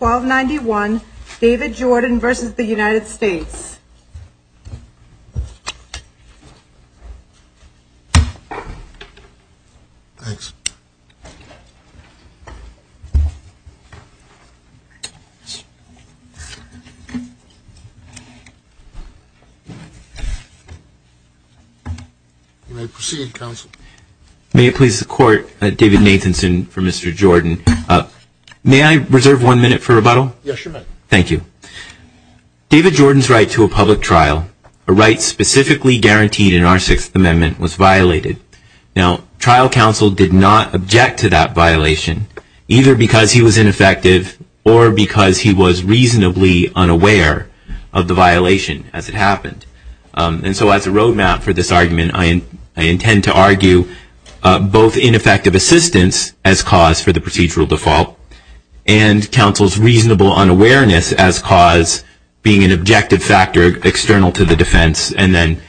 1291 David Jordan v. The United States May it please the Court, David Nathanson for Mr. Jordan. May I reserve one minute for rebuttal? Yes, you may. Thank you. David Jordan's right to a public trial, a right specifically guaranteed in our Sixth Amendment, was violated. Now, trial counsel did not object to that violation, either because he was ineffective or because he was reasonably unaware of the violation as it happened. And so as a roadmap for this argument, I intend to argue both ineffective assistance as cause for the procedural default, and counsel's reasonable unawareness as cause being an objective factor external to the defense, and then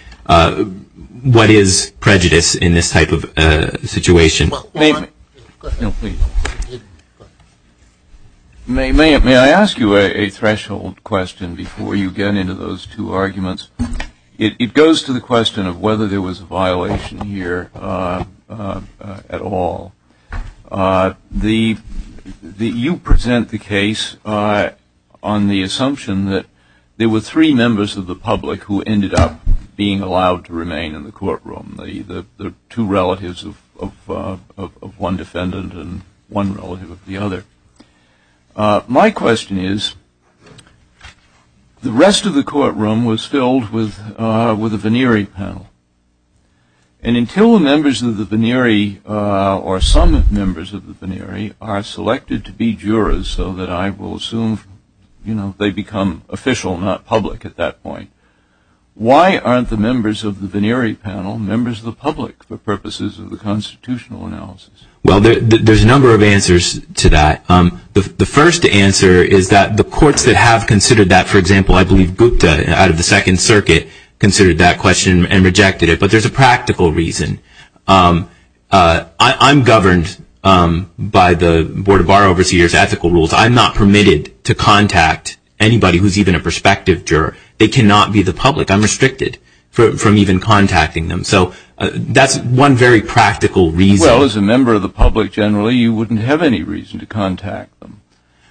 what is prejudice in this type of situation. May I ask you a threshold question before you get into those two arguments? It goes to the question of whether there was a violation here at all. You present the case on the assumption that there were three members of the public who ended up being allowed to remain in the courtroom, the two relatives of one defendant and one relative of the other. My question is, the rest of the courtroom was filled with a venerey panel, and until the members of the venerey, or some members of the venerey, are selected to be jurors so that I will assume, you know, they become official, not public at that point, why aren't the members of the venerey panel members of the public for purposes of the constitutional analysis? Well, there's a number of answers to that. The first answer is that the courts that have considered that, for example, I believe Gupta out of the Second Circuit considered that question and rejected it, but there's a practical reason. I'm governed by the Board of Bar Overseers ethical rules. I'm not permitted to contact anybody who's even a prospective juror. They cannot be the public. I'm restricted from even contacting them. So that's one very practical reason. Well, as a member of the public generally, you wouldn't have any reason to contact them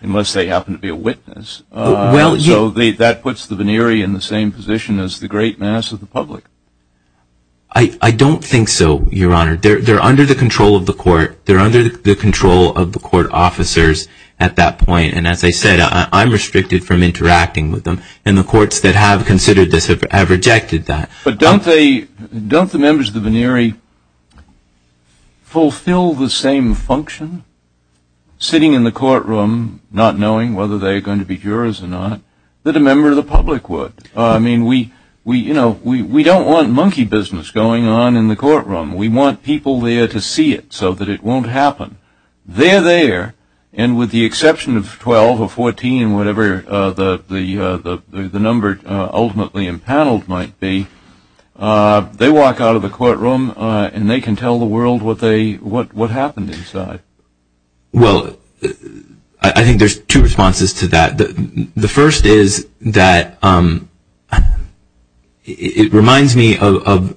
unless they happen to be a witness. That puts the venerey in the same position as the great mass of the public. I don't think so, Your Honor. They're under the control of the court. They're under the control of the court officers at that point, and as I said, I'm restricted from interacting with them, and the courts that have considered this have rejected that. But don't the members of the venerey fulfill the same function, sitting in the courtroom, not knowing whether they're going to be jurors or not, that a member of the public would? I mean, we don't want monkey business going on in the courtroom. We want people there to see it so that it won't happen. They're there, and with the exception of 12 or 14, whatever the number ultimately impaneled might be, they walk out of the courtroom, and they can tell the world what happened inside. Well, I think there's two responses to that. The first is that it reminds me of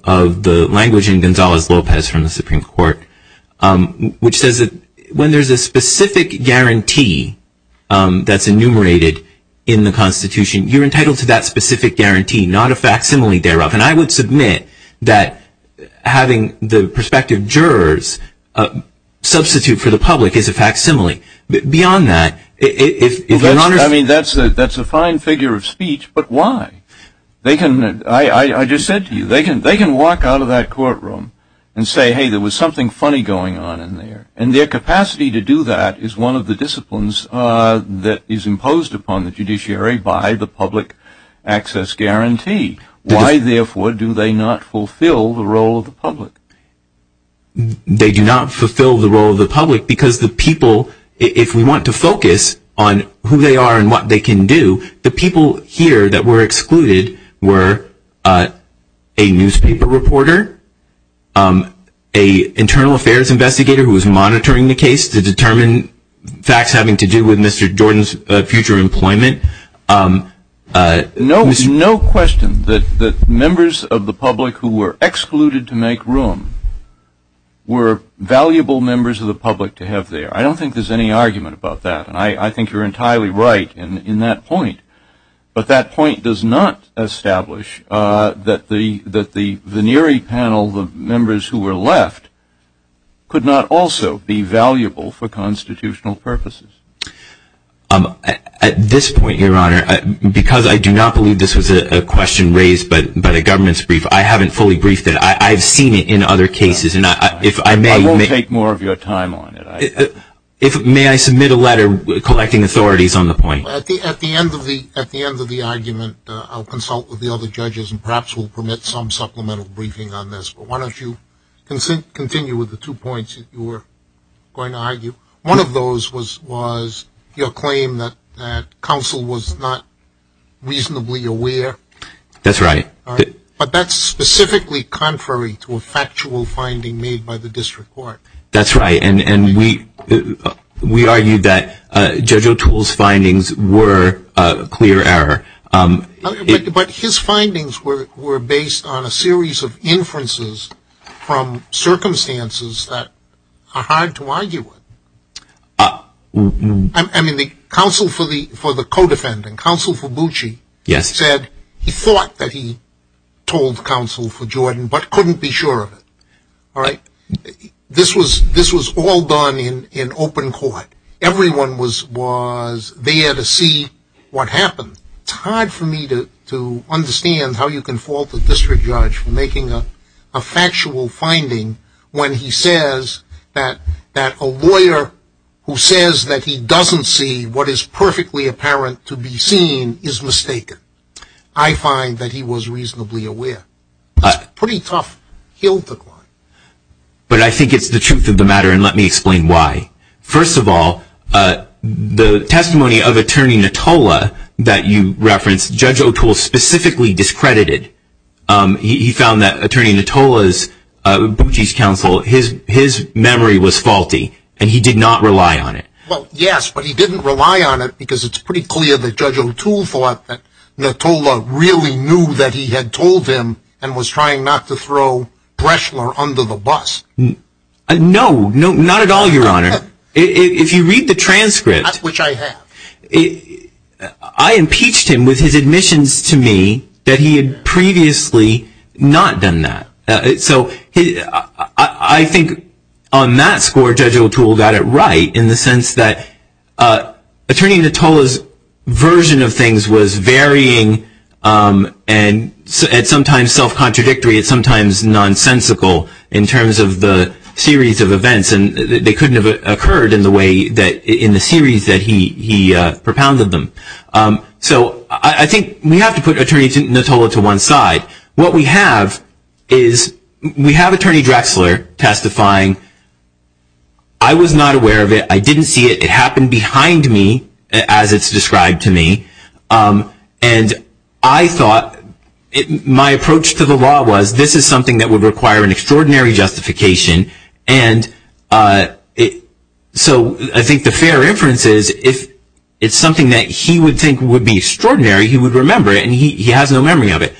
the language in Gonzales-Lopez from the Supreme Court, which says that when there's a specific guarantee that's enumerated in the Constitution, you're a facsimile thereof. And I would submit that having the prospective jurors substitute for the public is a facsimile. Beyond that, if your Honor's... I mean, that's a fine figure of speech, but why? They can... I just said to you, they can walk out of that courtroom and say, hey, there was something funny going on in there. And their capacity to do that is one of the disciplines that is imposed upon the judiciary by the public access guarantee. Why therefore do they not fulfill the role of the public? They do not fulfill the role of the public because the people, if we want to focus on who they are and what they can do, the people here that were excluded were a newspaper reporter, a internal affairs investigator who was monitoring the case to determine facts having to do with No question that members of the public who were excluded to make room were valuable members of the public to have there. I don't think there's any argument about that, and I think you're entirely right in that point. But that point does not establish that the veneery panel, the members who were left, could not also be valuable for constitutional purposes. At this point, your honor, because I do not believe this was a question raised by the government's brief, I haven't fully briefed it. I've seen it in other cases, and if I may... I won't take more of your time on it. May I submit a letter collecting authorities on the point? At the end of the argument, I'll consult with the other judges and perhaps we'll permit some supplemental briefing on this, but why don't you continue with the two points that you were going to argue. One of those was your claim that counsel was not reasonably aware. That's right. But that's specifically contrary to a factual finding made by the district court. That's right, and we argued that Judge O'Toole's findings were a clear error. But his findings were based on a series of inferences from circumstances that are hard to argue with. I mean, counsel for the co-defendant, counsel for Bucci, said he thought that he told counsel for Jordan, but couldn't be sure of it. This was all done in open court. Everyone was there to see what happened. It's hard for me to understand how you can fault the district judge for making a factual finding when he says that a lawyer who says that he doesn't see what is perfectly apparent to be seen is mistaken. I find that he was reasonably aware. It's a pretty tough hill to climb. But I think it's the truth of the matter, and let me explain why. First of all, the testimony of Attorney Natola that you referenced, Judge O'Toole specifically discredited. He found that Attorney Natola's, Bucci's counsel, his memory was faulty, and he did not rely on it. Well, yes, but he didn't rely on it because it's pretty clear that Judge O'Toole thought that Natola really knew that he had told him and was trying not to throw Breschler under the bus. No, not at all, Your Honor. If you read the transcript. Not which I have. I impeached him with his admissions to me that he had previously not done that. So I think on that score, Judge O'Toole got it right in the sense that Attorney Natola's version of things was varying and sometimes self-contradictory and sometimes nonsensical in terms of the series of events, and they couldn't have occurred in the series that he propounded them. So I think we have to put Attorney Natola to one side. What we have is we have Attorney Drexler testifying. I was not aware of it. I didn't see it. It happened behind me as it's described to me, and I thought my approach to the law was this is something that would require an extraordinary justification, and so I think the fair inference is if it's something that he would think would be extraordinary, he would remember it, and he has no memory of it.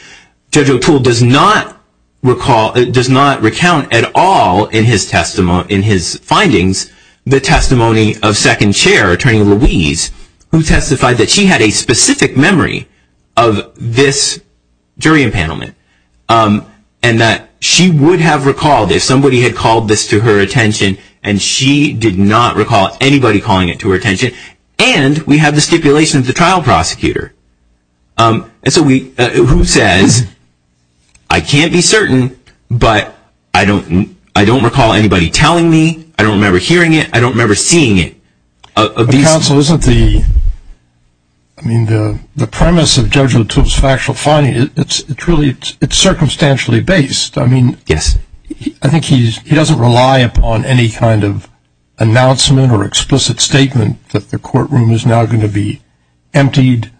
Judge O'Toole does not recount at all in his findings the testimony of second chair, Attorney Louise, who testified that she had a specific memory of this jury impanelment, and that she would have recalled if somebody had called this to her attention, and she did not recall anybody calling it to her attention, and we have the stipulation of the trial prosecutor, who says, I can't be certain, but I don't recall anybody telling me. I don't remember hearing it. I don't remember seeing it. Counsel, isn't the premise of Judge O'Toole's factual finding, it's really, it's circumstantially based. Yes. I think he doesn't rely upon any kind of announcement or explicit statement that the courtroom is now going to be emptied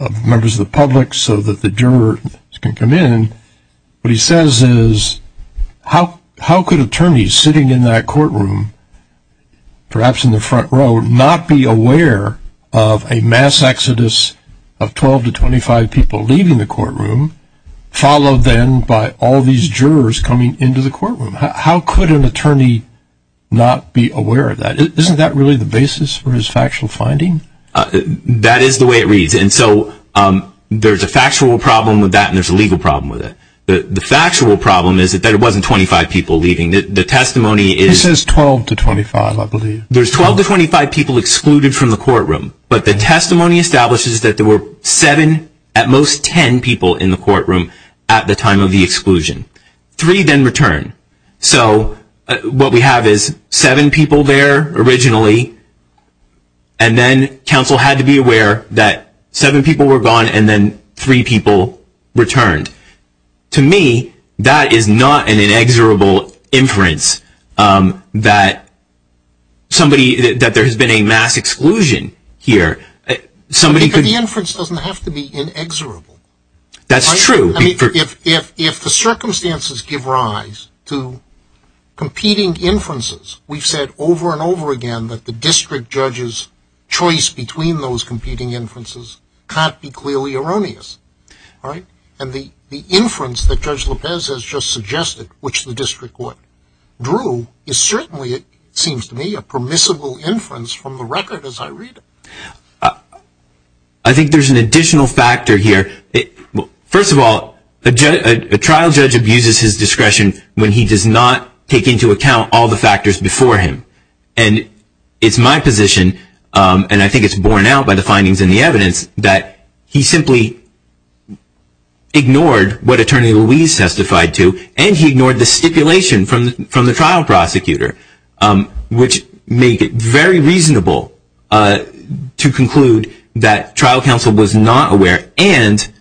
of members of the public so that the jurors can come in. What he says is, how could attorneys sitting in that courtroom, perhaps in the front row, not be aware of a mass exodus of 12 to 25 people leaving the courtroom, followed then by all these jurors coming into the courtroom? How could an attorney not be aware of that? Isn't that really the basis for his factual finding? That is the way it reads, and so there's a factual problem with that, and there's a legal problem with it. The factual problem is that there wasn't 25 people leaving. The testimony is... It says 12 to 25, I believe. There's 12 to 25 people excluded from the courtroom, but the testimony establishes that there were seven, at most 10 people in the courtroom at the time of the exclusion. Three then returned. So what we have is seven people there originally, and then counsel had to be aware that seven people were gone and then three people returned. To me, that is not an inexorable inference that somebody, that there has been a mass exclusion here. Because the inference doesn't have to be inexorable. That's true. I mean, if the circumstances give rise to competing inferences, we've said over and over again that the district judge's choice between those competing inferences can't be clearly erroneous, and the inference that Judge Lopez has just suggested, which the district court drew, is certainly, it seems to me, a permissible inference from the record as I read it. I think there's an additional factor here. First of all, a trial judge abuses his discretion when he does not take into account all the factors before him, and it's my position, and I think it's borne out by the findings in the evidence, that he simply ignored what Attorney Louise testified to, and he ignored the stipulation from the trial prosecutor, which made it very reasonable to conclude that trial counsel was not aware, and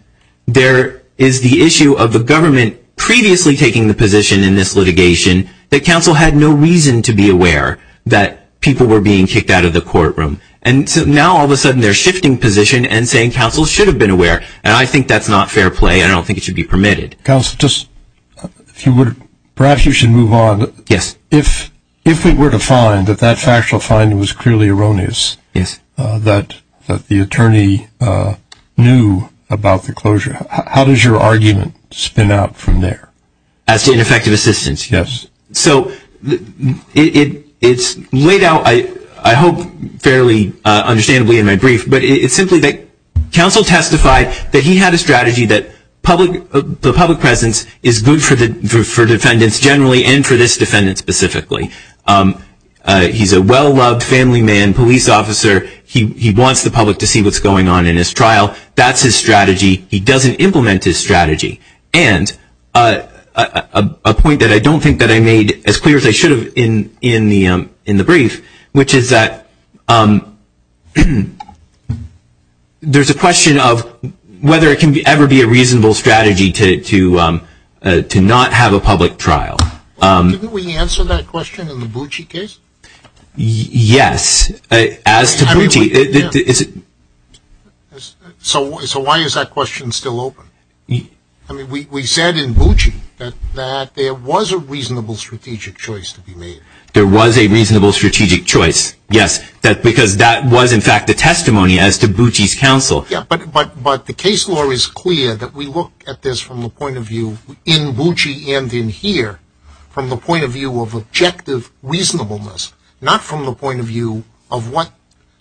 there is the issue of the government previously taking the position in this litigation that counsel had no reason to be aware that people were being kicked out of the courtroom, and so now all of a sudden they're shifting position and saying counsel should have been aware, and I think that's not fair play, and I don't think it should be permitted. Counsel, just, if you would, perhaps you should move on. Yes. If we were to find that that factual finding was clearly erroneous, that the attorney knew about the closure, how does your argument spin out from there? As to ineffective assistance? Yes. So, it's laid out, I hope, fairly understandably in my brief, but it's simply that counsel testified that he had a strategy that the public presence is good for defendants generally and for this defendant specifically. He's a well-loved family man, police officer. He wants the public to see what's going on in his trial. That's his strategy. He doesn't implement his strategy, and a point that I don't think that I made as clear as I should have in the brief, which is that there's a question of whether it can ever be a reasonable strategy to not have a public trial. Didn't we answer that question in the Bucci case? Yes. As to Bucci, is it? So why is that question still open? I mean, we said in Bucci that there was a reasonable strategic choice to be made. There was a reasonable strategic choice, yes, because that was in fact the testimony as to Bucci's counsel. But the case law is clear that we look at this from the point of view in Bucci and in here from the point of view of objective reasonableness, not from the point of view of what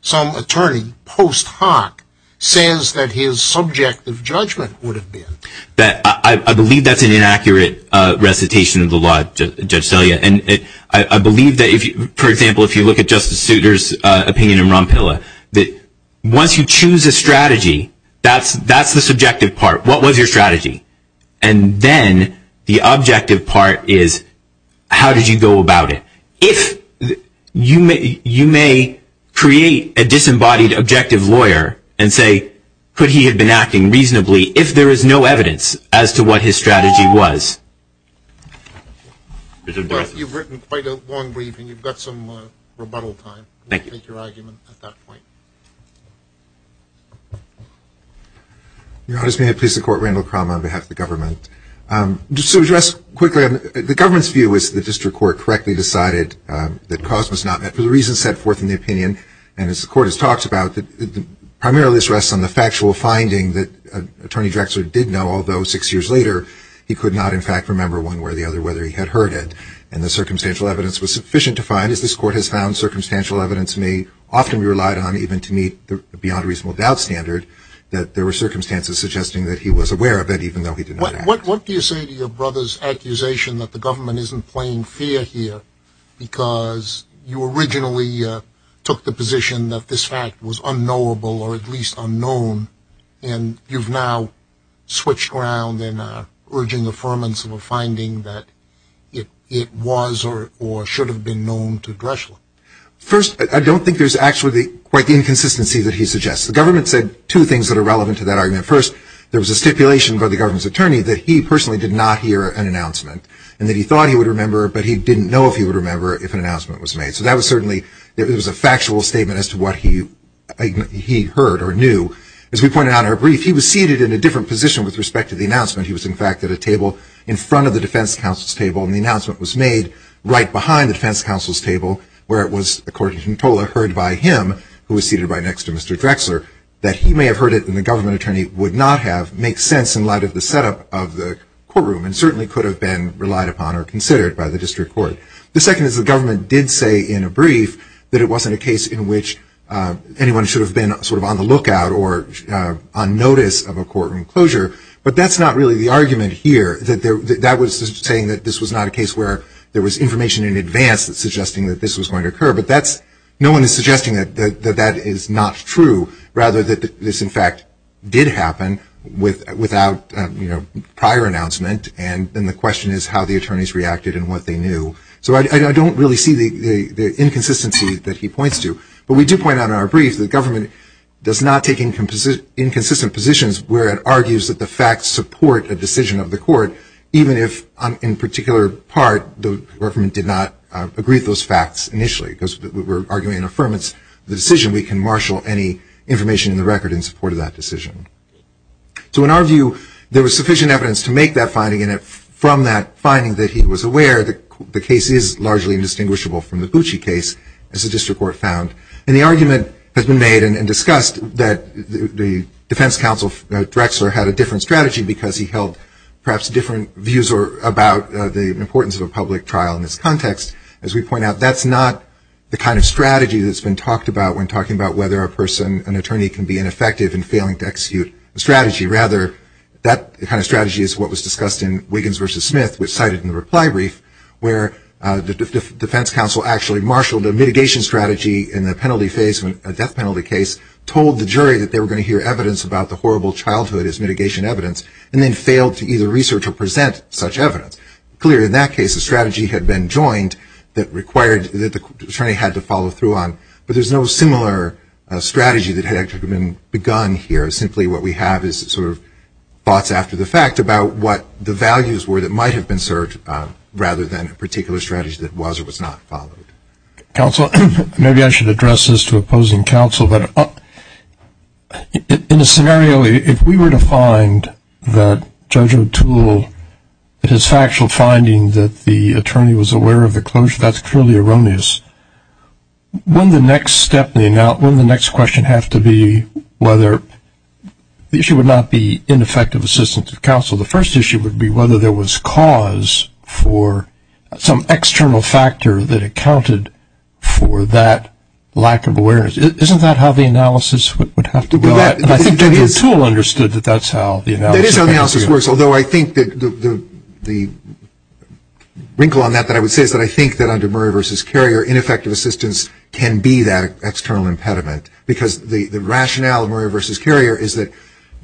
some attorney in post hoc says that his subjective judgment would have been. I believe that's an inaccurate recitation of the law, Judge Selya, and I believe that if you, for example, if you look at Justice Souter's opinion in Ronpilla, that once you choose a strategy, that's the subjective part. What was your strategy? And then the objective part is how did you go about it? If you may create a disembodied objective lawyer and say, could he have been acting reasonably if there is no evidence as to what his strategy was? You've written quite a long brief, and you've got some rebuttal time to make your argument at that point. Your Honor, may I please support Randall Crum on behalf of the government? To address quickly, the government's view is the district court correctly decided that cause was not met for the reasons set forth in the opinion, and as the court has talked about, primarily this rests on the factual finding that Attorney Drexler did know, although six years later, he could not, in fact, remember one way or the other whether he had heard it. And the circumstantial evidence was sufficient to find, as this court has found circumstantial evidence may often be relied on even to meet the beyond reasonable doubt standard, that there were circumstances suggesting that he was aware of it even though he did not act. What do you say to your brother's accusation that the government isn't playing fair here because you originally took the position that this fact was unknowable or at least unknown, and you've now switched around and are urging affirmance of a finding that it was or should have been known to Drexler? First, I don't think there's actually quite the inconsistency that he suggests. The government said two things that are relevant to that argument. First, there was a stipulation by the government's attorney that he personally did not hear an announcement and that he thought he would remember, but he didn't know if he would remember if an announcement was made. So that was certainly, it was a factual statement as to what he heard or knew. As we pointed out in our brief, he was seated in a different position with respect to the announcement. He was, in fact, at a table in front of the defense counsel's table, and the announcement was made right behind the defense counsel's table where it was, according to Ntola, heard by him, who was seated right next to Mr. Drexler, that he may have heard it and the government attorney would not have makes sense in light of the setup of the courtroom and certainly could have been relied upon or considered by the district court. The second is the government did say in a brief that it wasn't a case in which anyone should have been sort of on the lookout or on notice of a courtroom closure, but that's not really the argument here. That was saying that this was not a case where there was information in advance suggesting that this was going to occur, but that's, no one is suggesting that that is not true rather that this, in fact, did happen without prior announcement, and then the question is how the attorneys reacted and what they knew. So I don't really see the inconsistency that he points to, but we do point out in our brief that government does not take inconsistent positions where it argues that the facts support a decision of the court, even if, in particular part, the government did not agree with those information in the record in support of that decision. So in our view, there was sufficient evidence to make that finding and from that finding that he was aware that the case is largely indistinguishable from the Bucci case, as the district court found. And the argument has been made and discussed that the defense counsel, Drexler, had a different strategy because he held perhaps different views about the importance of a public trial in this context. As we point out, that's not the kind of strategy that's been talked about when talking about whether a person, an attorney, can be ineffective in failing to execute a strategy. Rather, that kind of strategy is what was discussed in Wiggins v. Smith, which cited in the reply brief, where the defense counsel actually marshaled a mitigation strategy in the penalty phase when a death penalty case told the jury that they were going to hear evidence about the horrible childhood as mitigation evidence and then failed to either research or present such evidence. Clearly, in that case, a strategy had been joined that required that the attorney had to follow through on. But there's no similar strategy that had actually been begun here. Simply what we have is sort of thoughts after the fact about what the values were that might have been served rather than a particular strategy that was or was not followed. Counsel, maybe I should address this to opposing counsel, but in a scenario, if we were to find that Judge O'Toole, his factual finding that the attorney was aware of the closure, that's clearly erroneous, wouldn't the next question have to be whether the issue would not be ineffective assistance to counsel? The first issue would be whether there was cause for some external factor that accounted for that lack of awareness. Isn't that how the analysis would have to go? And I think Judge O'Toole understood that that's how the analysis works. That is how the analysis works, although I think that the wrinkle on that that I would say is that I think that under Murray v. Carrier, ineffective assistance can be that external impediment. Because the rationale of Murray v. Carrier is that,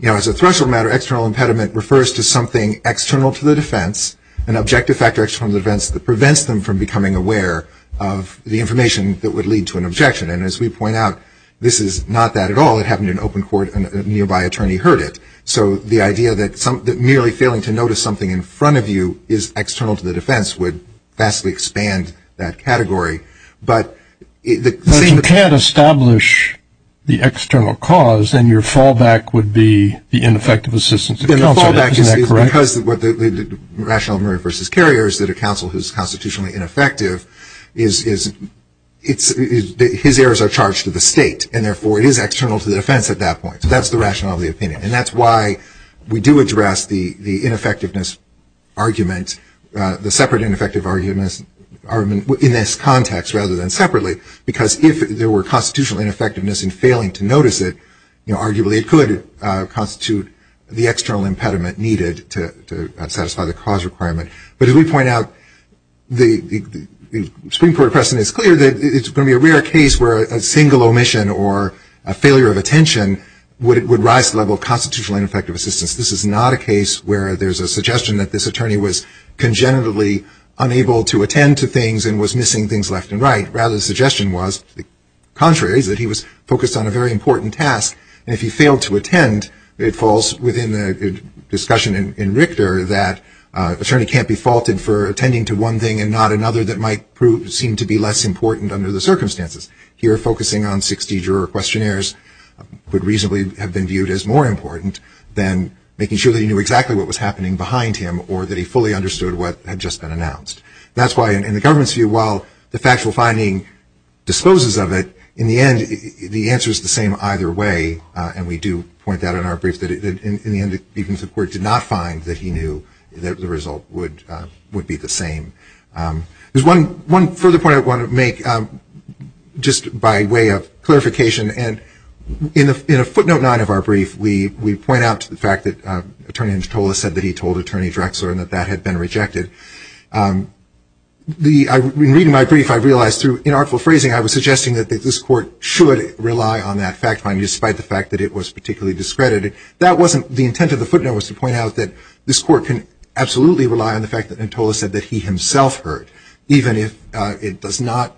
as a threshold matter, external impediment refers to something external to the defense, an objective factor external to the defense that prevents them from becoming aware of the information that would lead to an objection. And as we point out, this is not that at all. It happened in open court and a nearby attorney heard it. So the idea that merely failing to notice something in front of you is external to the defense, we expand that category. But you can't establish the external cause, and your fallback would be the ineffective assistance to counsel. Isn't that correct? The fallback is because the rationale of Murray v. Carrier is that a counsel who is constitutionally ineffective, his errors are charged to the state, and therefore it is external to the defense at that point. So that's the rationale of the opinion, and that's why we do address the ineffectiveness argument, the separate ineffective argument, in this context rather than separately. Because if there were constitutional ineffectiveness in failing to notice it, arguably it could constitute the external impediment needed to satisfy the cause requirement. But as we point out, the Supreme Court precedent is clear that it's going to be a rare case where a single omission or a failure of attention would rise the level of constitutional ineffective assistance. This is not a case where there's a suggestion that this attorney was congenitally unable to attend to things and was missing things left and right. Rather, the suggestion was the contrary, that he was focused on a very important task, and if he failed to attend, it falls within the discussion in Richter that an attorney can't be faulted for attending to one thing and not another that might seem to be less important under the circumstances. Here, focusing on 60 juror questionnaires would reasonably have been viewed as more important than making sure that he knew exactly what was happening behind him or that he fully understood what had just been announced. That's why in the government's view, while the factual finding disposes of it, in the end, the answer is the same either way. And we do point that in our brief, that in the end, the Supreme Court did not find that he knew that the result would be the same. One further point I want to make, just by way of clarification, and in a footnote 9 of our brief, we point out the fact that Attorney Antola said that he told Attorney Drexler and that that had been rejected. In reading my brief, I realized through inartful phrasing, I was suggesting that this Court should rely on that fact finding, despite the fact that it was particularly discredited. That wasn't the intent of the footnote, was to point out that this Court can absolutely rely on the fact that Antola said that he himself heard, even if it does not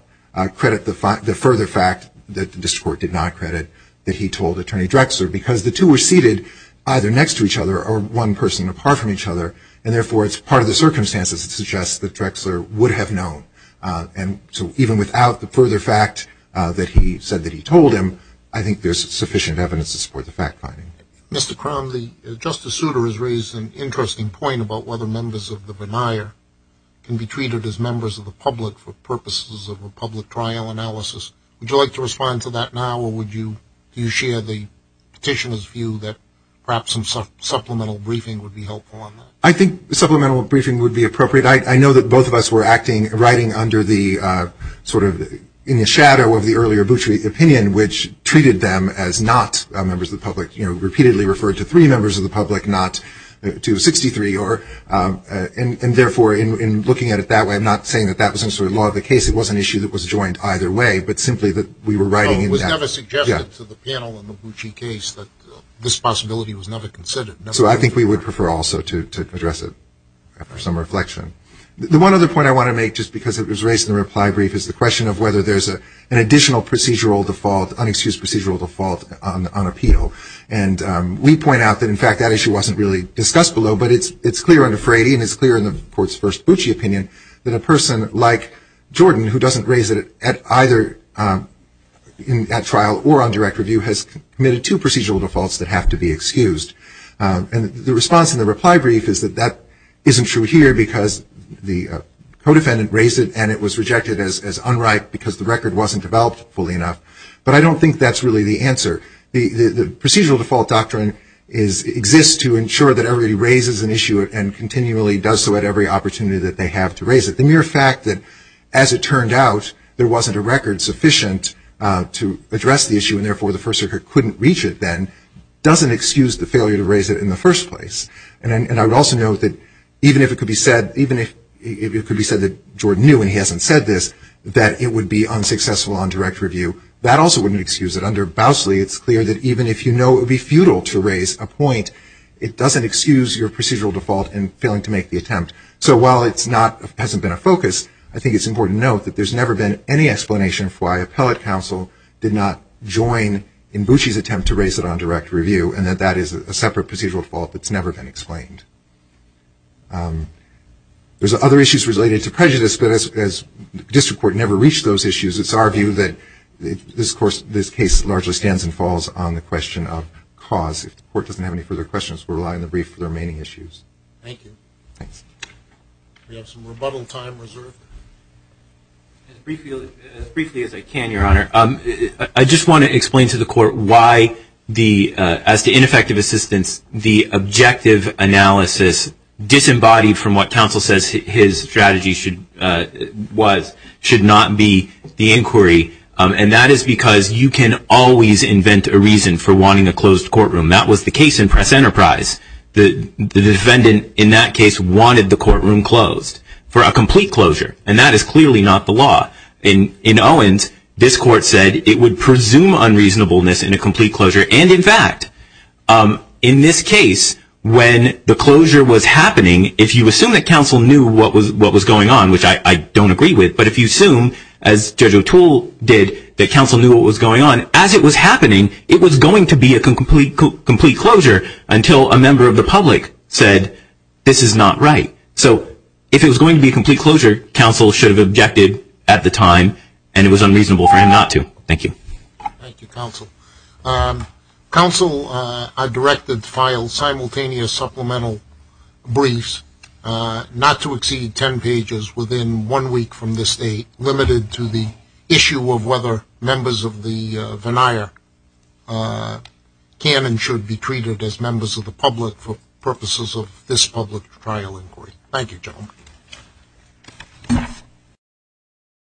credit the further fact that this Court did not credit that he told Attorney Drexler. Because the two were seated either next to each other or one person apart from each other, and therefore, it's part of the circumstances that suggest that Drexler would have known. And so even without the further fact that he said that he told him, I think there's sufficient evidence to support the fact finding. Mr. Cromley, Justice Souter has raised an interesting point about whether members of a public trial analysis. Would you like to respond to that now, or do you share the Petitioner's view that perhaps some supplemental briefing would be helpful on that? I think supplemental briefing would be appropriate. I know that both of us were acting, writing under the sort of, in the shadow of the earlier Boutry opinion, which treated them as not members of the public, you know, repeatedly referred to three members of the public, not to 63. And therefore, in looking at it that way, I'm not saying that that was a sort of law of the case. It wasn't an issue that was joined either way, but simply that we were writing in that way. But it was never suggested to the panel in the Boutry case that this possibility was never considered. So I think we would prefer also to address it after some reflection. The one other point I want to make, just because it was raised in the reply brief, is the question of whether there's an additional procedural default, unexcused procedural default on appeal. And we point out that, in fact, that issue wasn't really discussed below, but it's clear under Frady, and it's clear in the Court's first Boutry opinion, that a person like Jordan, who doesn't raise it at either, in that trial or on direct review, has committed two procedural defaults that have to be excused. And the response in the reply brief is that that isn't true here, because the co-defendant raised it, and it was rejected as unright, because the record wasn't developed fully enough. But I don't think that's really the answer. The procedural default doctrine exists to ensure that everybody raises an issue and continually does so at every opportunity that they have to raise it. The mere fact that, as it turned out, there wasn't a record sufficient to address the issue, and therefore the First Circuit couldn't reach it then, doesn't excuse the failure to raise it in the first place. And I would also note that, even if it could be said that Jordan knew, and he hasn't said this, that it would be unsuccessful on direct review, that also wouldn't excuse it. Under Bousley, it's clear that even if you know it would be futile to raise a point, it doesn't excuse your procedural default in failing to make the attempt. So while it hasn't been a focus, I think it's important to note that there's never been any explanation for why appellate counsel did not join Mbuchi's attempt to raise it on direct review, and that that is a separate procedural default that's never been explained. There's other issues related to prejudice, but as district court never reached those largely stands and falls on the question of cause. If the court doesn't have any further questions, we'll rely on the brief for the remaining issues. Thank you. Thanks. We have some rebuttal time reserved. As briefly as I can, Your Honor, I just want to explain to the court why, as to ineffective assistance, the objective analysis, disembodied from what counsel says his strategy was, should not be the inquiry. And that is because you can always invent a reason for wanting a closed courtroom. That was the case in Press Enterprise. The defendant, in that case, wanted the courtroom closed for a complete closure. And that is clearly not the law. In Owens, this court said it would presume unreasonableness in a complete closure. And in fact, in this case, when the closure was happening, if you assume that counsel knew what was going on, which I don't agree with, but if you assume, as Judge O'Toole did, that counsel knew what was going on, as it was happening, it was going to be a complete closure until a member of the public said, this is not right. So if it was going to be a complete closure, counsel should have objected at the time, and it was unreasonable for him not to. Thank you. Thank you, counsel. Counsel, I directed, filed simultaneous supplemental briefs, not to exceed 10 pages, within one week from this date, limited to the issue of whether members of the veneer can and should be treated as members of the public for purposes of this public trial inquiry. Thank you, gentlemen.